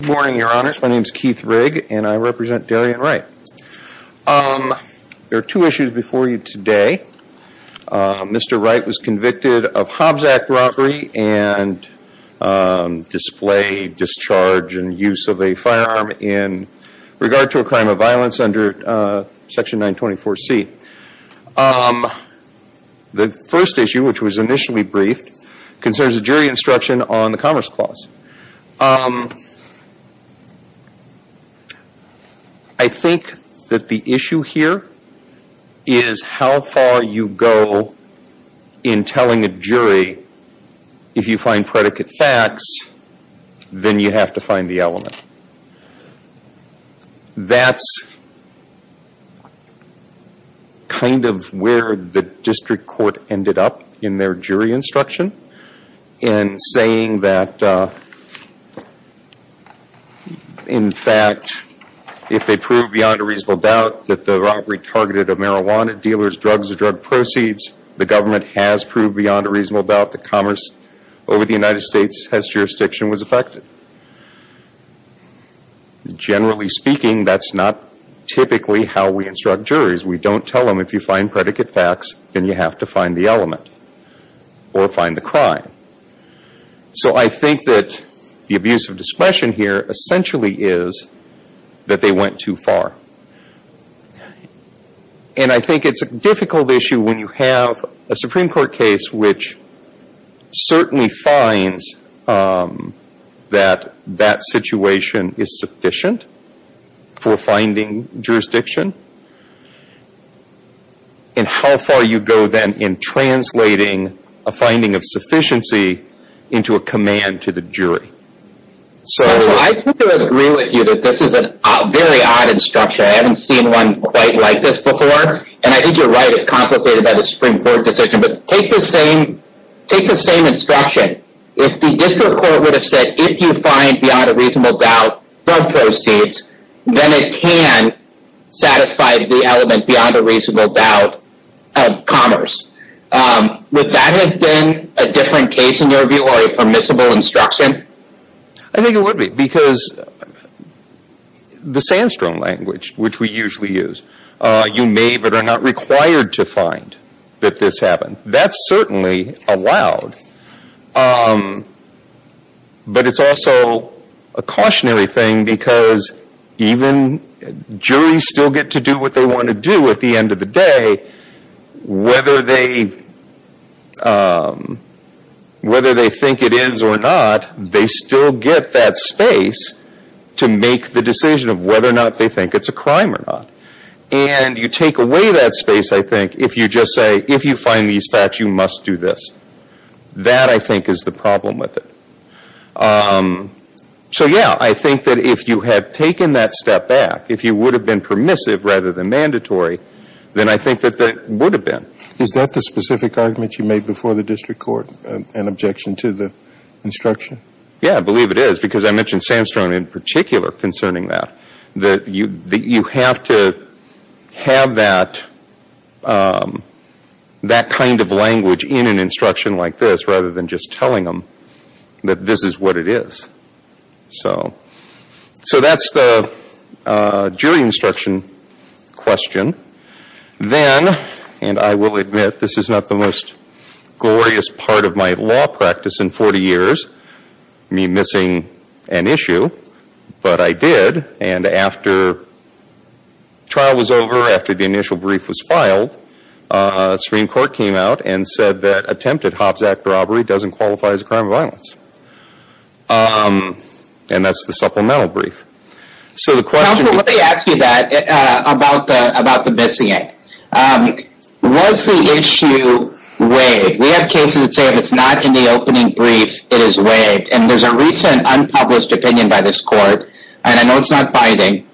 Good morning, Your Honor. My name is Keith Rigg, and I represent Darreon Wright. There are two issues before you today. Mr. Wright was convicted of Hobbs Act robbery and display, discharge, and use of a firearm in regard to a crime of violence under Section 924C. The first issue, which was initially briefed, concerns a jury instruction on the Commerce Clause. I think that the issue here is how far you go in telling a jury if you find predicate facts, then you have to find the element. That's kind of where the district court ended up in their jury instruction in saying that in fact, if they prove beyond a reasonable doubt that the robbery targeted a marijuana dealer's drugs or drug proceeds, the government has proved beyond a reasonable doubt that commerce over the United States has jurisdiction was affected. Generally speaking, that's not typically how we instruct juries. We don't tell them if you find predicate facts, then you have to find the element or find the crime. So I think that the abuse of discretion here essentially is that they went too far. And I think it's a difficult issue when you have a Supreme Court case which certainly finds that that situation is sufficient for finding jurisdiction, and how far you go then in translating a finding of sufficiency into a command to the jury. So I think I would agree with you that this is a very odd instruction. I haven't seen one quite like this before. And I think you're right, it's complicated by the Supreme Court decision. But take the same instruction. If the district court would have said, if you find beyond a reasonable doubt drug proceeds, then it can satisfy the element beyond a reasonable doubt of commerce. Would that have been a different case in your view or a permissible instruction? And I think it would be, because the Sandstrom language, which we usually use, you may but are not required to find that this happened. That's certainly allowed. But it's also a cautionary thing, because even juries still get to do what they want to do at the end of the day. Whether they think it is or not, they still get that space to make the decision of whether or not they think it's a crime or not. And you take away that space, I think, if you just say, if you find these facts, you must do this. That, I think, is the problem with it. So yeah, I think that if you had taken that step back, if you would have been permissive rather than mandatory, then I think that that would have been. Is that the specific argument you made before the district court, an objection to the instruction? Yeah, I believe it is, because I mentioned Sandstrom in particular concerning that. You have to have that kind of language in an instruction like this rather than just question. Then, and I will admit, this is not the most glorious part of my law practice in 40 years, me missing an issue, but I did. And after trial was over, after the initial brief was filed, Supreme Court came out and said that attempted Hobbs Act robbery doesn't qualify as a crime of violence. And that's the supplemental brief. Counsel, let me ask you that about the missing act. Was the issue waived? We have cases that say if it's not in the opening brief, it is waived. And there's a recent unpublished opinion by this court, and I know it's not binding,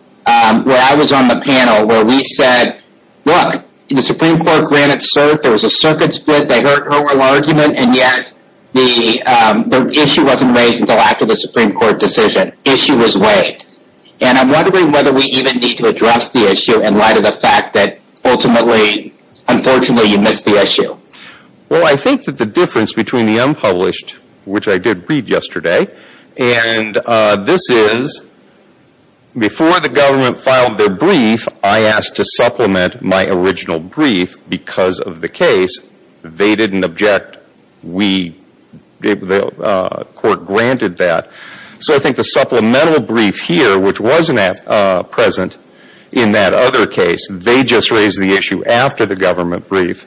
where I was on the panel where we said, look, the Supreme Court ran it cert, there was a circuit split, they heard her oral argument, and yet the issue wasn't raised until after the Supreme Court decision. Issue was waived. And I'm wondering whether we even need to address the issue in light of the fact that ultimately, unfortunately, you missed the issue. Well, I think that the difference between the unpublished, which I did read yesterday, and this is before the government filed their brief, I asked to supplement my original brief because of the case. They didn't object. We, the court granted that. So I think the supplemental brief here, which wasn't present in that other case, they just raised the issue after the government brief.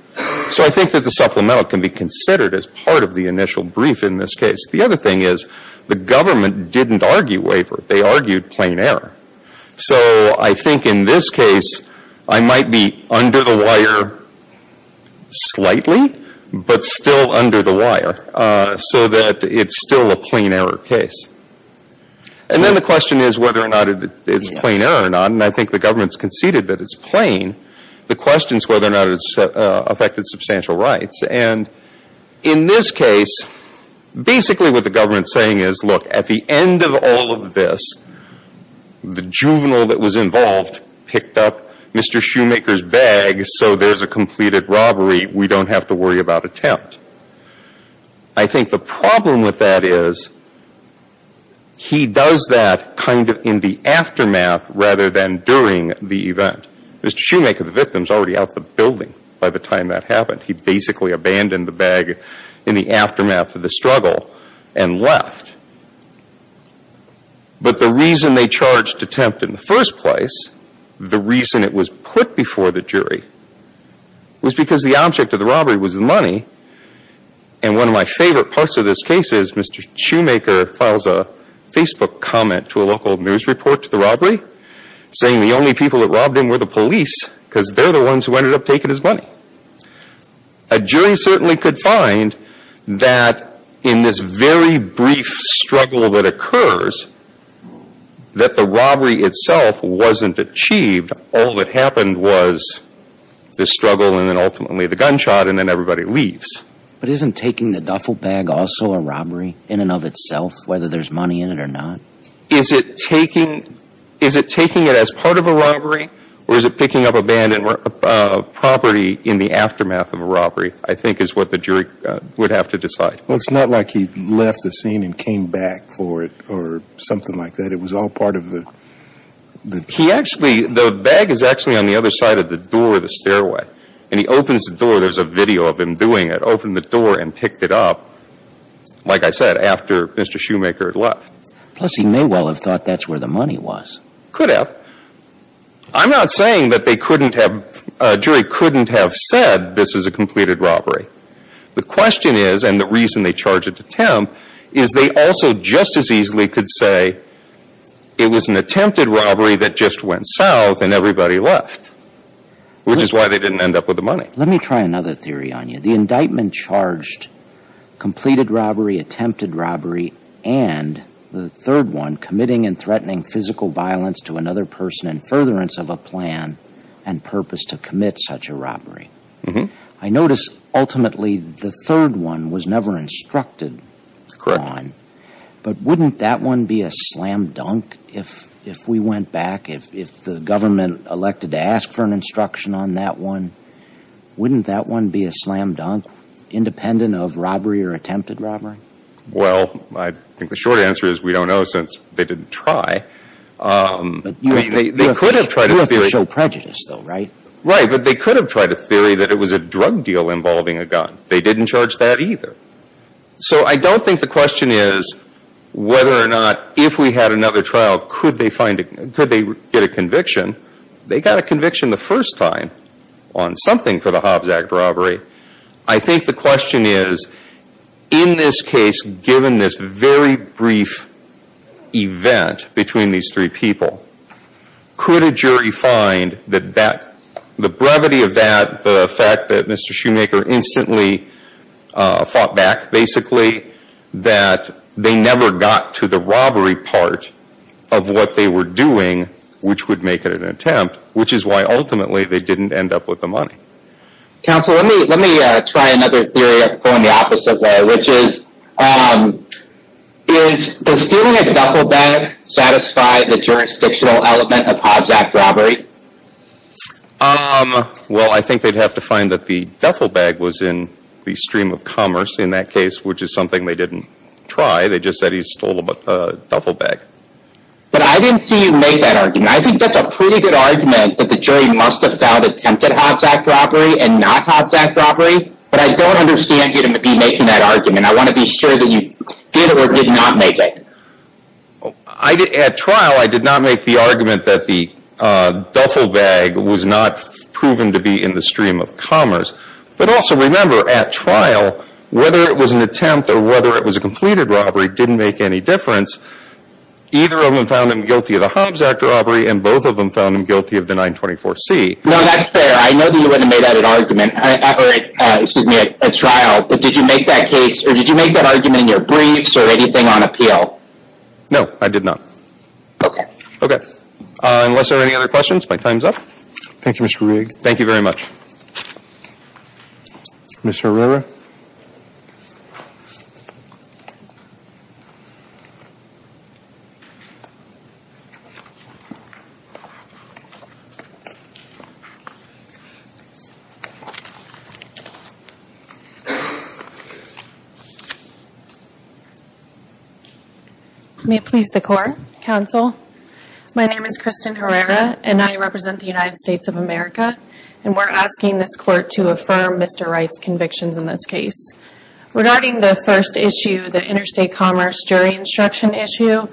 So I think that the supplemental can be considered as part of the initial brief in this case. The other thing is, the government didn't argue waiver. They argued plain error. So I think in this case, I might be under the wire slightly, but still under the wire, so that it's still a plain error case. And then the question is whether or not it's plain error or not. And I think the government's conceded that it's plain. The question's whether or not it's affected substantial rights. And in this case, basically what the government's saying is, look, at the end of all of this, the juvenile that was involved picked up Mr. Shoemaker's bag, so there's a completed robbery. We don't have to worry about attempt. I think the problem with that is, he does that kind of in the aftermath rather than during the event. Mr. Shoemaker, the victim, is already out of the building by the time that happened. He basically abandoned the bag in the aftermath of the struggle and left. But the reason they charged attempt in the first place, the reason it was put before the jury, was because the object of the robbery was money. And one of my favorite parts of this case is Mr. Shoemaker files a Facebook comment to a local news report to the robbery, saying the only people that robbed him were the police, because they're the ones who ended up taking his money. A jury certainly could find that in this very brief struggle that occurs, that the robbery itself wasn't achieved. All that happened was the struggle and then ultimately the gunshot and then everybody leaves. But isn't taking the duffel bag also a robbery in and of itself, whether there's money in it or not? Is it taking, is it taking it as part of a robbery, or is it picking up abandoned property in the aftermath of a robbery, I think is what the jury would have to decide. Well, it's not like he left the scene and came back for it or something like that. It was all part of the... He actually, the bag is actually on the other side of the door of the stairway. And he opens the door, there's a video of him doing it, opened the door and picked it up, like I said, after Mr. Shoemaker had left. Plus, he may well have thought that's where the money was. Could have. I'm not saying that they couldn't have, a jury couldn't have said this is a completed robbery. The question is, and the reason they charged attempt, is they also just as easily could say it was an attempted robbery that just went south and everybody left, which is why they didn't end up with the money. Let me try another theory on you. The indictment charged completed robbery, attempted robbery, and the third one, committing and threatening physical violence to another person in furtherance of a plan and purpose to commit such a robbery. I notice ultimately the third one was never instructed on. Correct. But wouldn't that one be a slam dunk if we went back, if the government elected to ask for an instruction on that one? Wouldn't that one be a slam dunk, independent of robbery or attempted robbery? Well, I think the short answer is we don't know since they didn't try. They could have tried a theory... You have to show prejudice though, right? Right, but they could have tried a theory that it was a drug deal involving a gun. They didn't charge that either. So I don't think the question is whether or not if we had another trial could they find, could they get a conviction. They got a conviction the first time on something for the Hobbs Act robbery. I think the question is, in this case, given this very brief event between these three people, could a jury find that the brevity of that, the fact that Mr. Shoemaker instantly fought back, basically, that they never got to the robbery part of what they were doing, which would make it an attempt, which is why ultimately they didn't end up with the money. Counsel, let me try another theory, going the opposite way, which is, does stealing a duffel bag satisfy the jurisdictional element of Hobbs Act robbery? Well, I think they'd have to find that the duffel bag was in the stream of commerce in that case, which is something they didn't try. They just said he stole a duffel bag. But I didn't see you make that argument. I think that's a pretty good argument that the jury must have found attempted Hobbs Act robbery and not Hobbs Act robbery, but I don't understand you to be making that argument. I want to be sure that you did or did not make it. At trial, I did not make the argument that the duffel bag was not proven to be in the stream of commerce, but also remember, at trial, whether it was an attempt or whether it was a completed robbery didn't make any difference. Either of them found him guilty of the Hobbs Act robbery, and both of them found him guilty of the 924C. No, that's fair. I know that you wouldn't have made that an argument, excuse me, at trial, but did you make that case, or did you make that argument? No, I did not. Okay. Unless there are any other questions, my time's up. Thank you, Mr. Rigg. Thank you very much. Ms. Herrera? Ms. Herrera? May it please the Court, Counsel? My name is Kristen Herrera, and I represent the United Regarding the first issue, the interstate commerce jury instruction issue,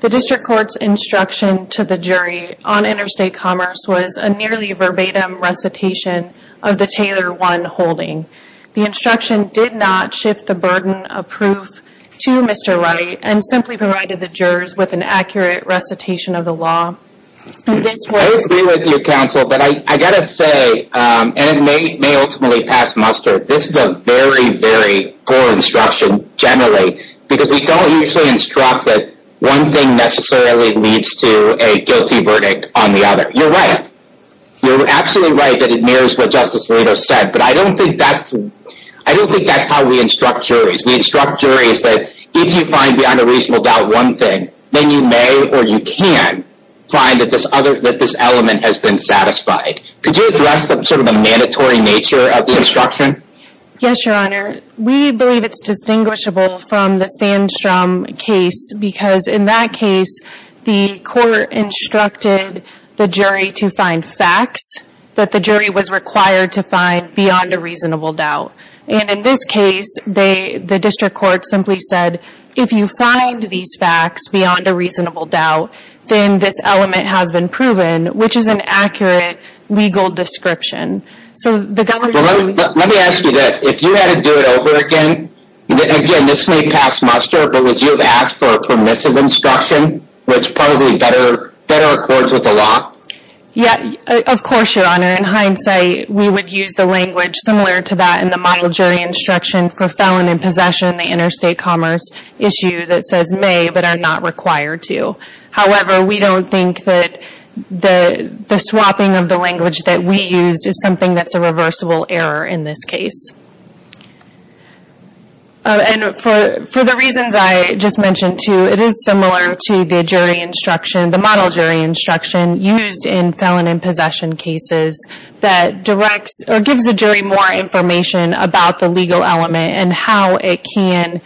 the district court's instruction to the jury on interstate commerce was a nearly verbatim recitation of the Taylor 1 holding. The instruction did not shift the burden of proof to Mr. Wright and simply provided the jurors with an accurate recitation of the law. I agree with you, Counsel, but I got to say, and it may ultimately pass muster, this is a very, very poor instruction generally, because we don't usually instruct that one thing necessarily leads to a guilty verdict on the other. You're right. You're absolutely right that it mirrors what Justice Alito said, but I don't think that's how we instruct juries. We instruct juries that if you find beyond a reasonable doubt one thing, then you may, or you can, find that this element has been satisfied. Could you address sort of the Yes, Your Honor. We believe it's distinguishable from the Sandstrom case because in that case, the court instructed the jury to find facts that the jury was required to find beyond a reasonable doubt. And in this case, the district court simply said, if you find these facts beyond a reasonable doubt, then this element has been proven, which is an accurate legal description. Well, let me ask you this. If you had to do it over again, again, this may pass muster, but would you have asked for a permissive instruction, which probably better accords with the law? Yeah, of course, Your Honor. In hindsight, we would use the language similar to that in the model jury instruction for felon in possession, the interstate commerce issue that says may, but are not required to. However, we don't think that the swapping of language that we used is something that's a reversible error in this case. And for the reasons I just mentioned too, it is similar to the jury instruction, the model jury instruction used in felon in possession cases that directs or gives the jury more information about the legal element and how it can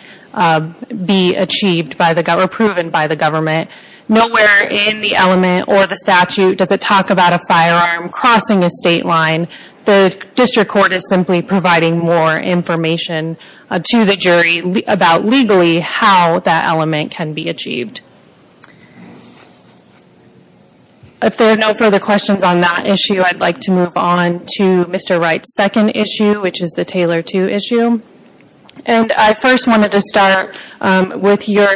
be achieved or proven by the government. Nowhere in the element or the statute does it talk about a firearm crossing a state line. The district court is simply providing more information to the jury about legally how that element can be achieved. If there are no further questions on that issue, I'd like to move on to Mr. Wright's second issue, which is the Taylor 2 issue. And I first wanted to start with your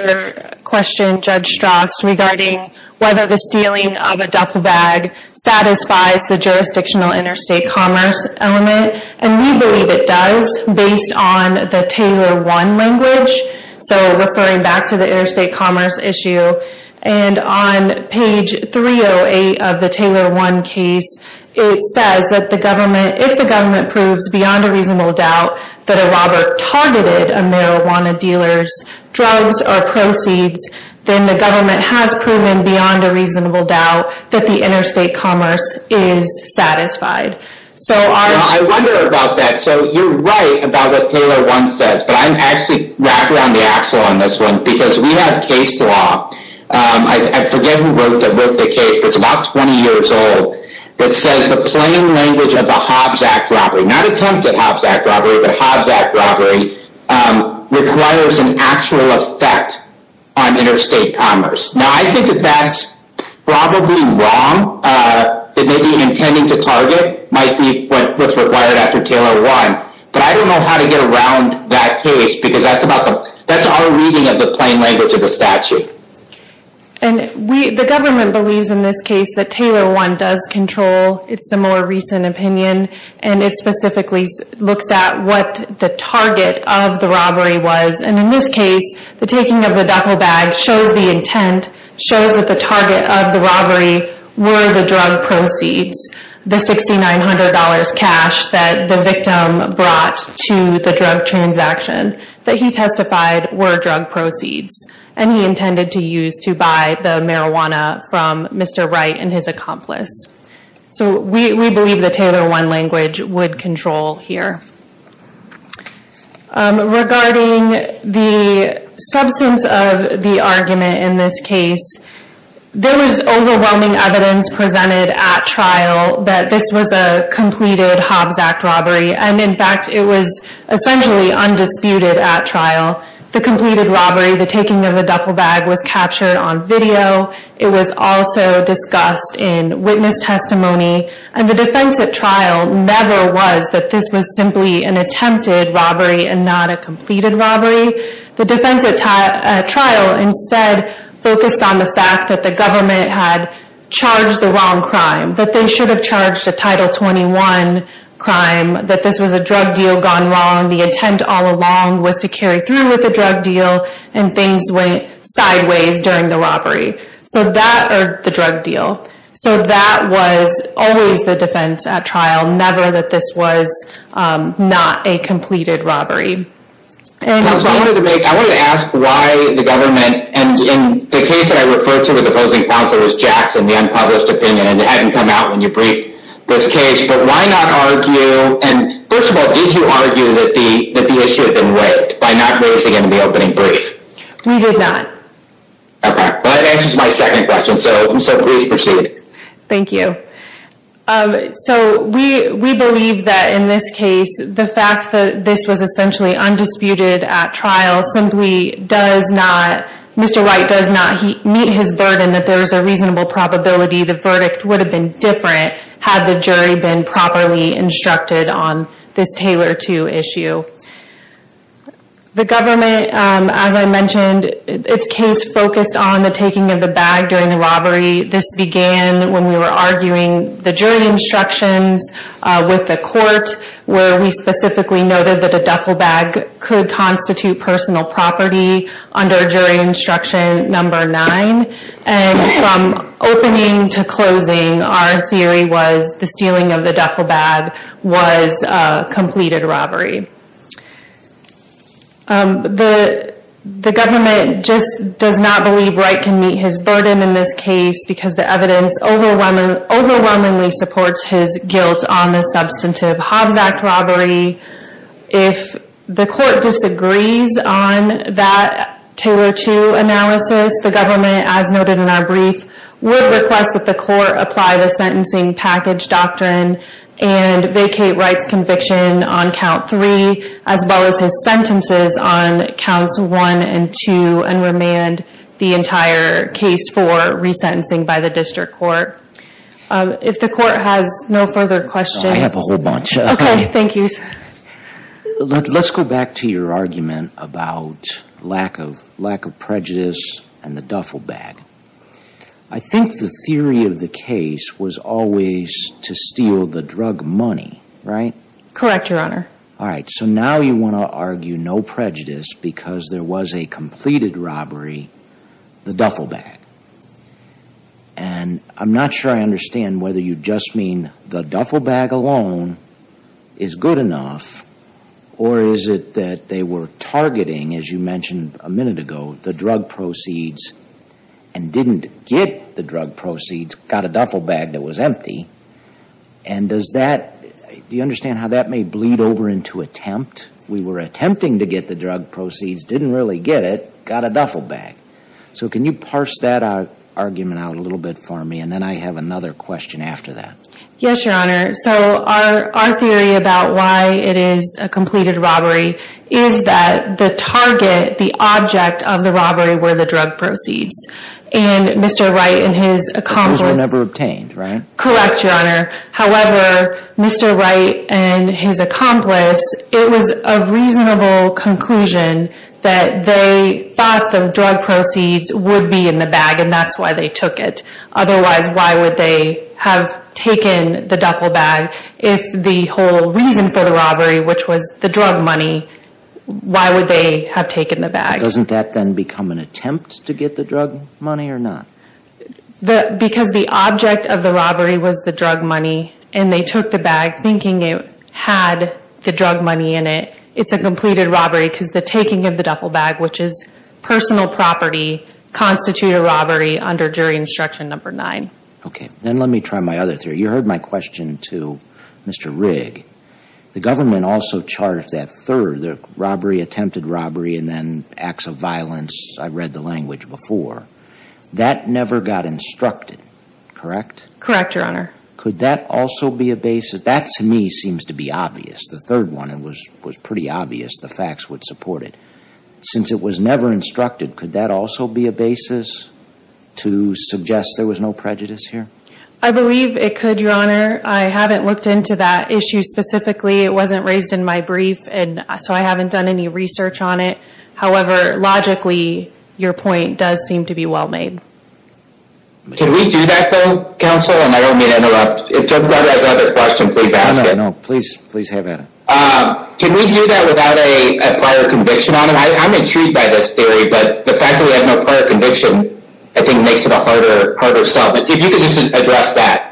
question, Judge Strauss, regarding whether the stealing of a duffel bag satisfies the jurisdictional interstate commerce element. And we believe it does based on the Taylor 1 language. So referring back to the interstate commerce issue and on page 308 of the Taylor 1 case, it says that the government, if the government proves beyond a reasonable doubt that a robber targeted a marijuana dealer's drugs or proceeds, then the government has proven beyond a reasonable doubt that the interstate commerce is satisfied. So our... I wonder about that. So you're right about what Taylor 1 says, but I'm actually wrapped around the axle on this one because we have case law. I forget who wrote the case, but it's about 20 years old that says the plain language of the robbery requires an actual effect on interstate commerce. Now, I think that that's probably wrong. It may be intending to target, might be what's required after Taylor 1, but I don't know how to get around that case because that's about the... that's our reading of the plain language of the statute. And we... the government believes in this case that Taylor 1 does control. It's the opinion and it specifically looks at what the target of the robbery was. And in this case, the taking of the duffel bag shows the intent, shows that the target of the robbery were the drug proceeds, the $6,900 cash that the victim brought to the drug transaction that he testified were drug proceeds and he intended to use to buy the marijuana from Mr. Wright and his accomplice. So we believe the Taylor 1 language would control here. Regarding the substance of the argument in this case, there was overwhelming evidence presented at trial that this was a completed Hobbs Act robbery. And in fact, it was essentially undisputed at trial. The completed robbery, the taking of the duffel bag was captured on video. It was also discussed in witness testimony. And the defense at trial never was that this was simply an attempted robbery and not a completed robbery. The defense at trial instead focused on the fact that the government had charged the wrong crime, that they should have charged a Title 21 crime, that this was a drug deal gone wrong. The intent all along was to so that or the drug deal. So that was always the defense at trial, never that this was not a completed robbery. I wanted to ask why the government and in the case that I referred to with the opposing counsel was Jackson, the unpublished opinion, and it hadn't come out when you briefed this case, but why not argue? And first of all, did you argue that the issue had not been raised in the opening brief? We did not. Okay, that answers my second question, so please proceed. Thank you. So we believe that in this case, the fact that this was essentially undisputed at trial simply does not, Mr. Wright does not meet his burden that there is a reasonable probability the verdict would have been different had the jury been properly instructed on this case. The government, as I mentioned, its case focused on the taking of the bag during the robbery. This began when we were arguing the jury instructions with the court where we specifically noted that a duffel bag could constitute personal property under jury instruction number nine. And from opening to closing, our theory was the stealing of the duffel bag was a completed robbery. Um, the, the government just does not believe Wright can meet his burden in this case because the evidence overwhelming, overwhelmingly supports his guilt on the substantive Hobbs Act robbery. If the court disagrees on that Taylor two analysis, the government, as noted in our brief, would request that the court apply the sentencing package doctrine and vacate Wright's conviction on count three, as well as his sentences on counts one and two and remand the entire case for resentencing by the district court. Um, if the court has no further questions, I have a whole bunch. Okay. Thank you. Let's go back to your argument about lack of lack of prejudice and the duffel bag. I think the theory of the case was always to steal the drug money, right? Correct. Your honor. All right. So now you want to argue no prejudice because there was a completed robbery, the duffel bag. And I'm not sure I understand whether you just mean the duffel bag alone is good enough, or is it that they were targeting, as you mentioned a minute ago, the drug proceeds and didn't get the drug proceeds, got a duffel bag that was empty. And does that, do you understand how that may bleed over into attempt? We were attempting to get the drug proceeds, didn't really get it, got a duffel bag. So can you parse that argument out a little bit for me? And then I have another question after that. Yes, your honor. So our, our theory about why it is a completed robbery is that the target, the object of the robbery, where the drug proceeds and Mr. Wright and his accomplices were never obtained, right? Correct, your honor. However, Mr. Wright and his accomplice, it was a reasonable conclusion that they thought the drug proceeds would be in the bag and that's why they took it. Otherwise, why would they have taken the duffel bag? If the whole reason for the robbery, which was the drug money, why would they have taken the bag? Doesn't that then become an The object of the robbery was the drug money and they took the bag thinking it had the drug money in it. It's a completed robbery because the taking of the duffel bag, which is personal property, constitute a robbery under jury instruction number nine. Okay. Then let me try my other theory. You heard my question to Mr. Rigg. The government also charged that third, the robbery, attempted robbery, and then acts of violence. I read the language before that never got instructed, correct? Correct, your honor. Could that also be a basis? That to me seems to be obvious. The third one, it was, was pretty obvious. The facts would support it since it was never instructed. Could that also be a basis to suggest there was no prejudice here? I believe it could, your honor. I haven't looked into that issue specifically. It wasn't raised in my brief and so I haven't done any research on it. However, logically, your point does seem to be well made. Can we do that though, counsel? And I don't mean to interrupt. If Jennifer has another question, please ask it. No, no, please, please have it. Can we do that without a prior conviction on it? I'm intrigued by this theory, but the fact that we have no prior conviction, I think makes it a harder, harder sell. But if you could just address that.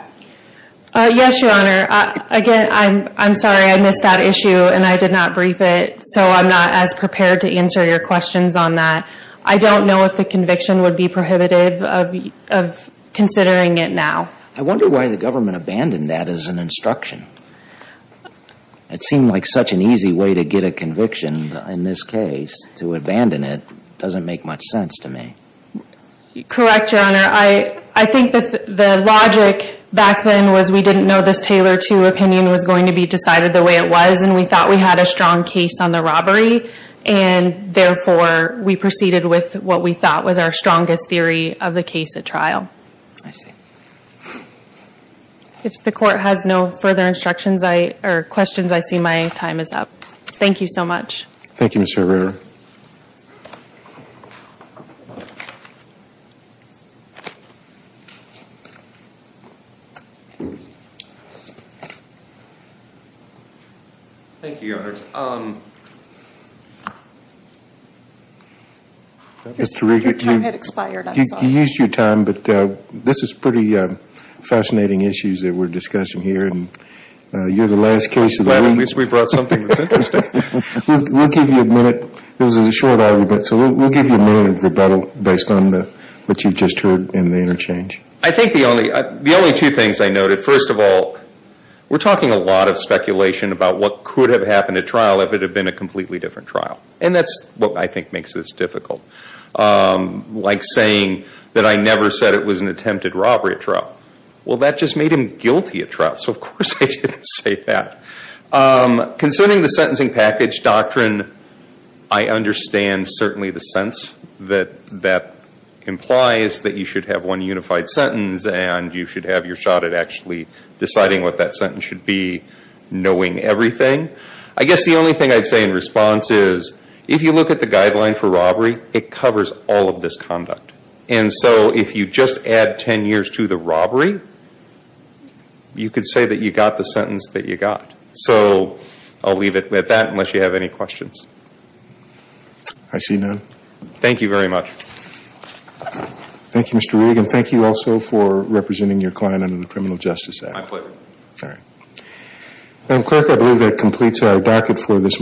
Yes, your honor. Again, I'm, I'm sorry I missed that issue and I did not brief it, so I'm not as prepared to answer your questions on that. I don't know if the conviction would be prohibitive of, of considering it now. I wonder why the government abandoned that as an instruction. It seemed like such an easy way to get a conviction in this case, to abandon it, doesn't make much sense to me. Correct, your honor. I, I think that the logic back then was we didn't know this Taylor 2 opinion was going to be decided the way it was, and we thought we had a strong case on the robbery, and therefore we proceeded with what we thought was our strongest theory of the case at trial. I see. If the court has no further instructions, I, or questions, I see my time is up. Thank you so much. Thank you, Mr. Rivera. Thank you, your honors. Mr. Riga, your time had expired, I'm sorry. You used your time, but this is pretty fascinating issues that we're discussing here, and you're the last case of the week. At least we brought something that's interesting. We'll give you a minute, this is a short argument, so we'll give you a minute of rebuttal based on the, what you've just heard in the interchange. I think the only, the only two things I noted, first of all, we're talking a lot of speculation about what could have happened at trial if it had been a completely different trial. And that's what I think makes this difficult. Like saying that I never said it was an attempted robbery at trial. Well that just made him guilty at trial, so of course I didn't say that. Concerning the sentencing package doctrine, I understand certainly the sense that that implies that you should have one unified sentence, and you should have your shot at actually deciding what that sentence should be, knowing everything. I guess the only thing I'd say in response is, if you look at the guideline for robbery, it covers all of this conduct. And so if you just add ten years to the robbery, you could say that you got the sentence that you got. So I'll leave it at that unless you have any questions. I see none. Thank you very much. Thank you Mr. Rigg, and thank you also for representing your client under the Criminal Justice Act. My pleasure. All right. And clerk, I believe that completes our docket for this.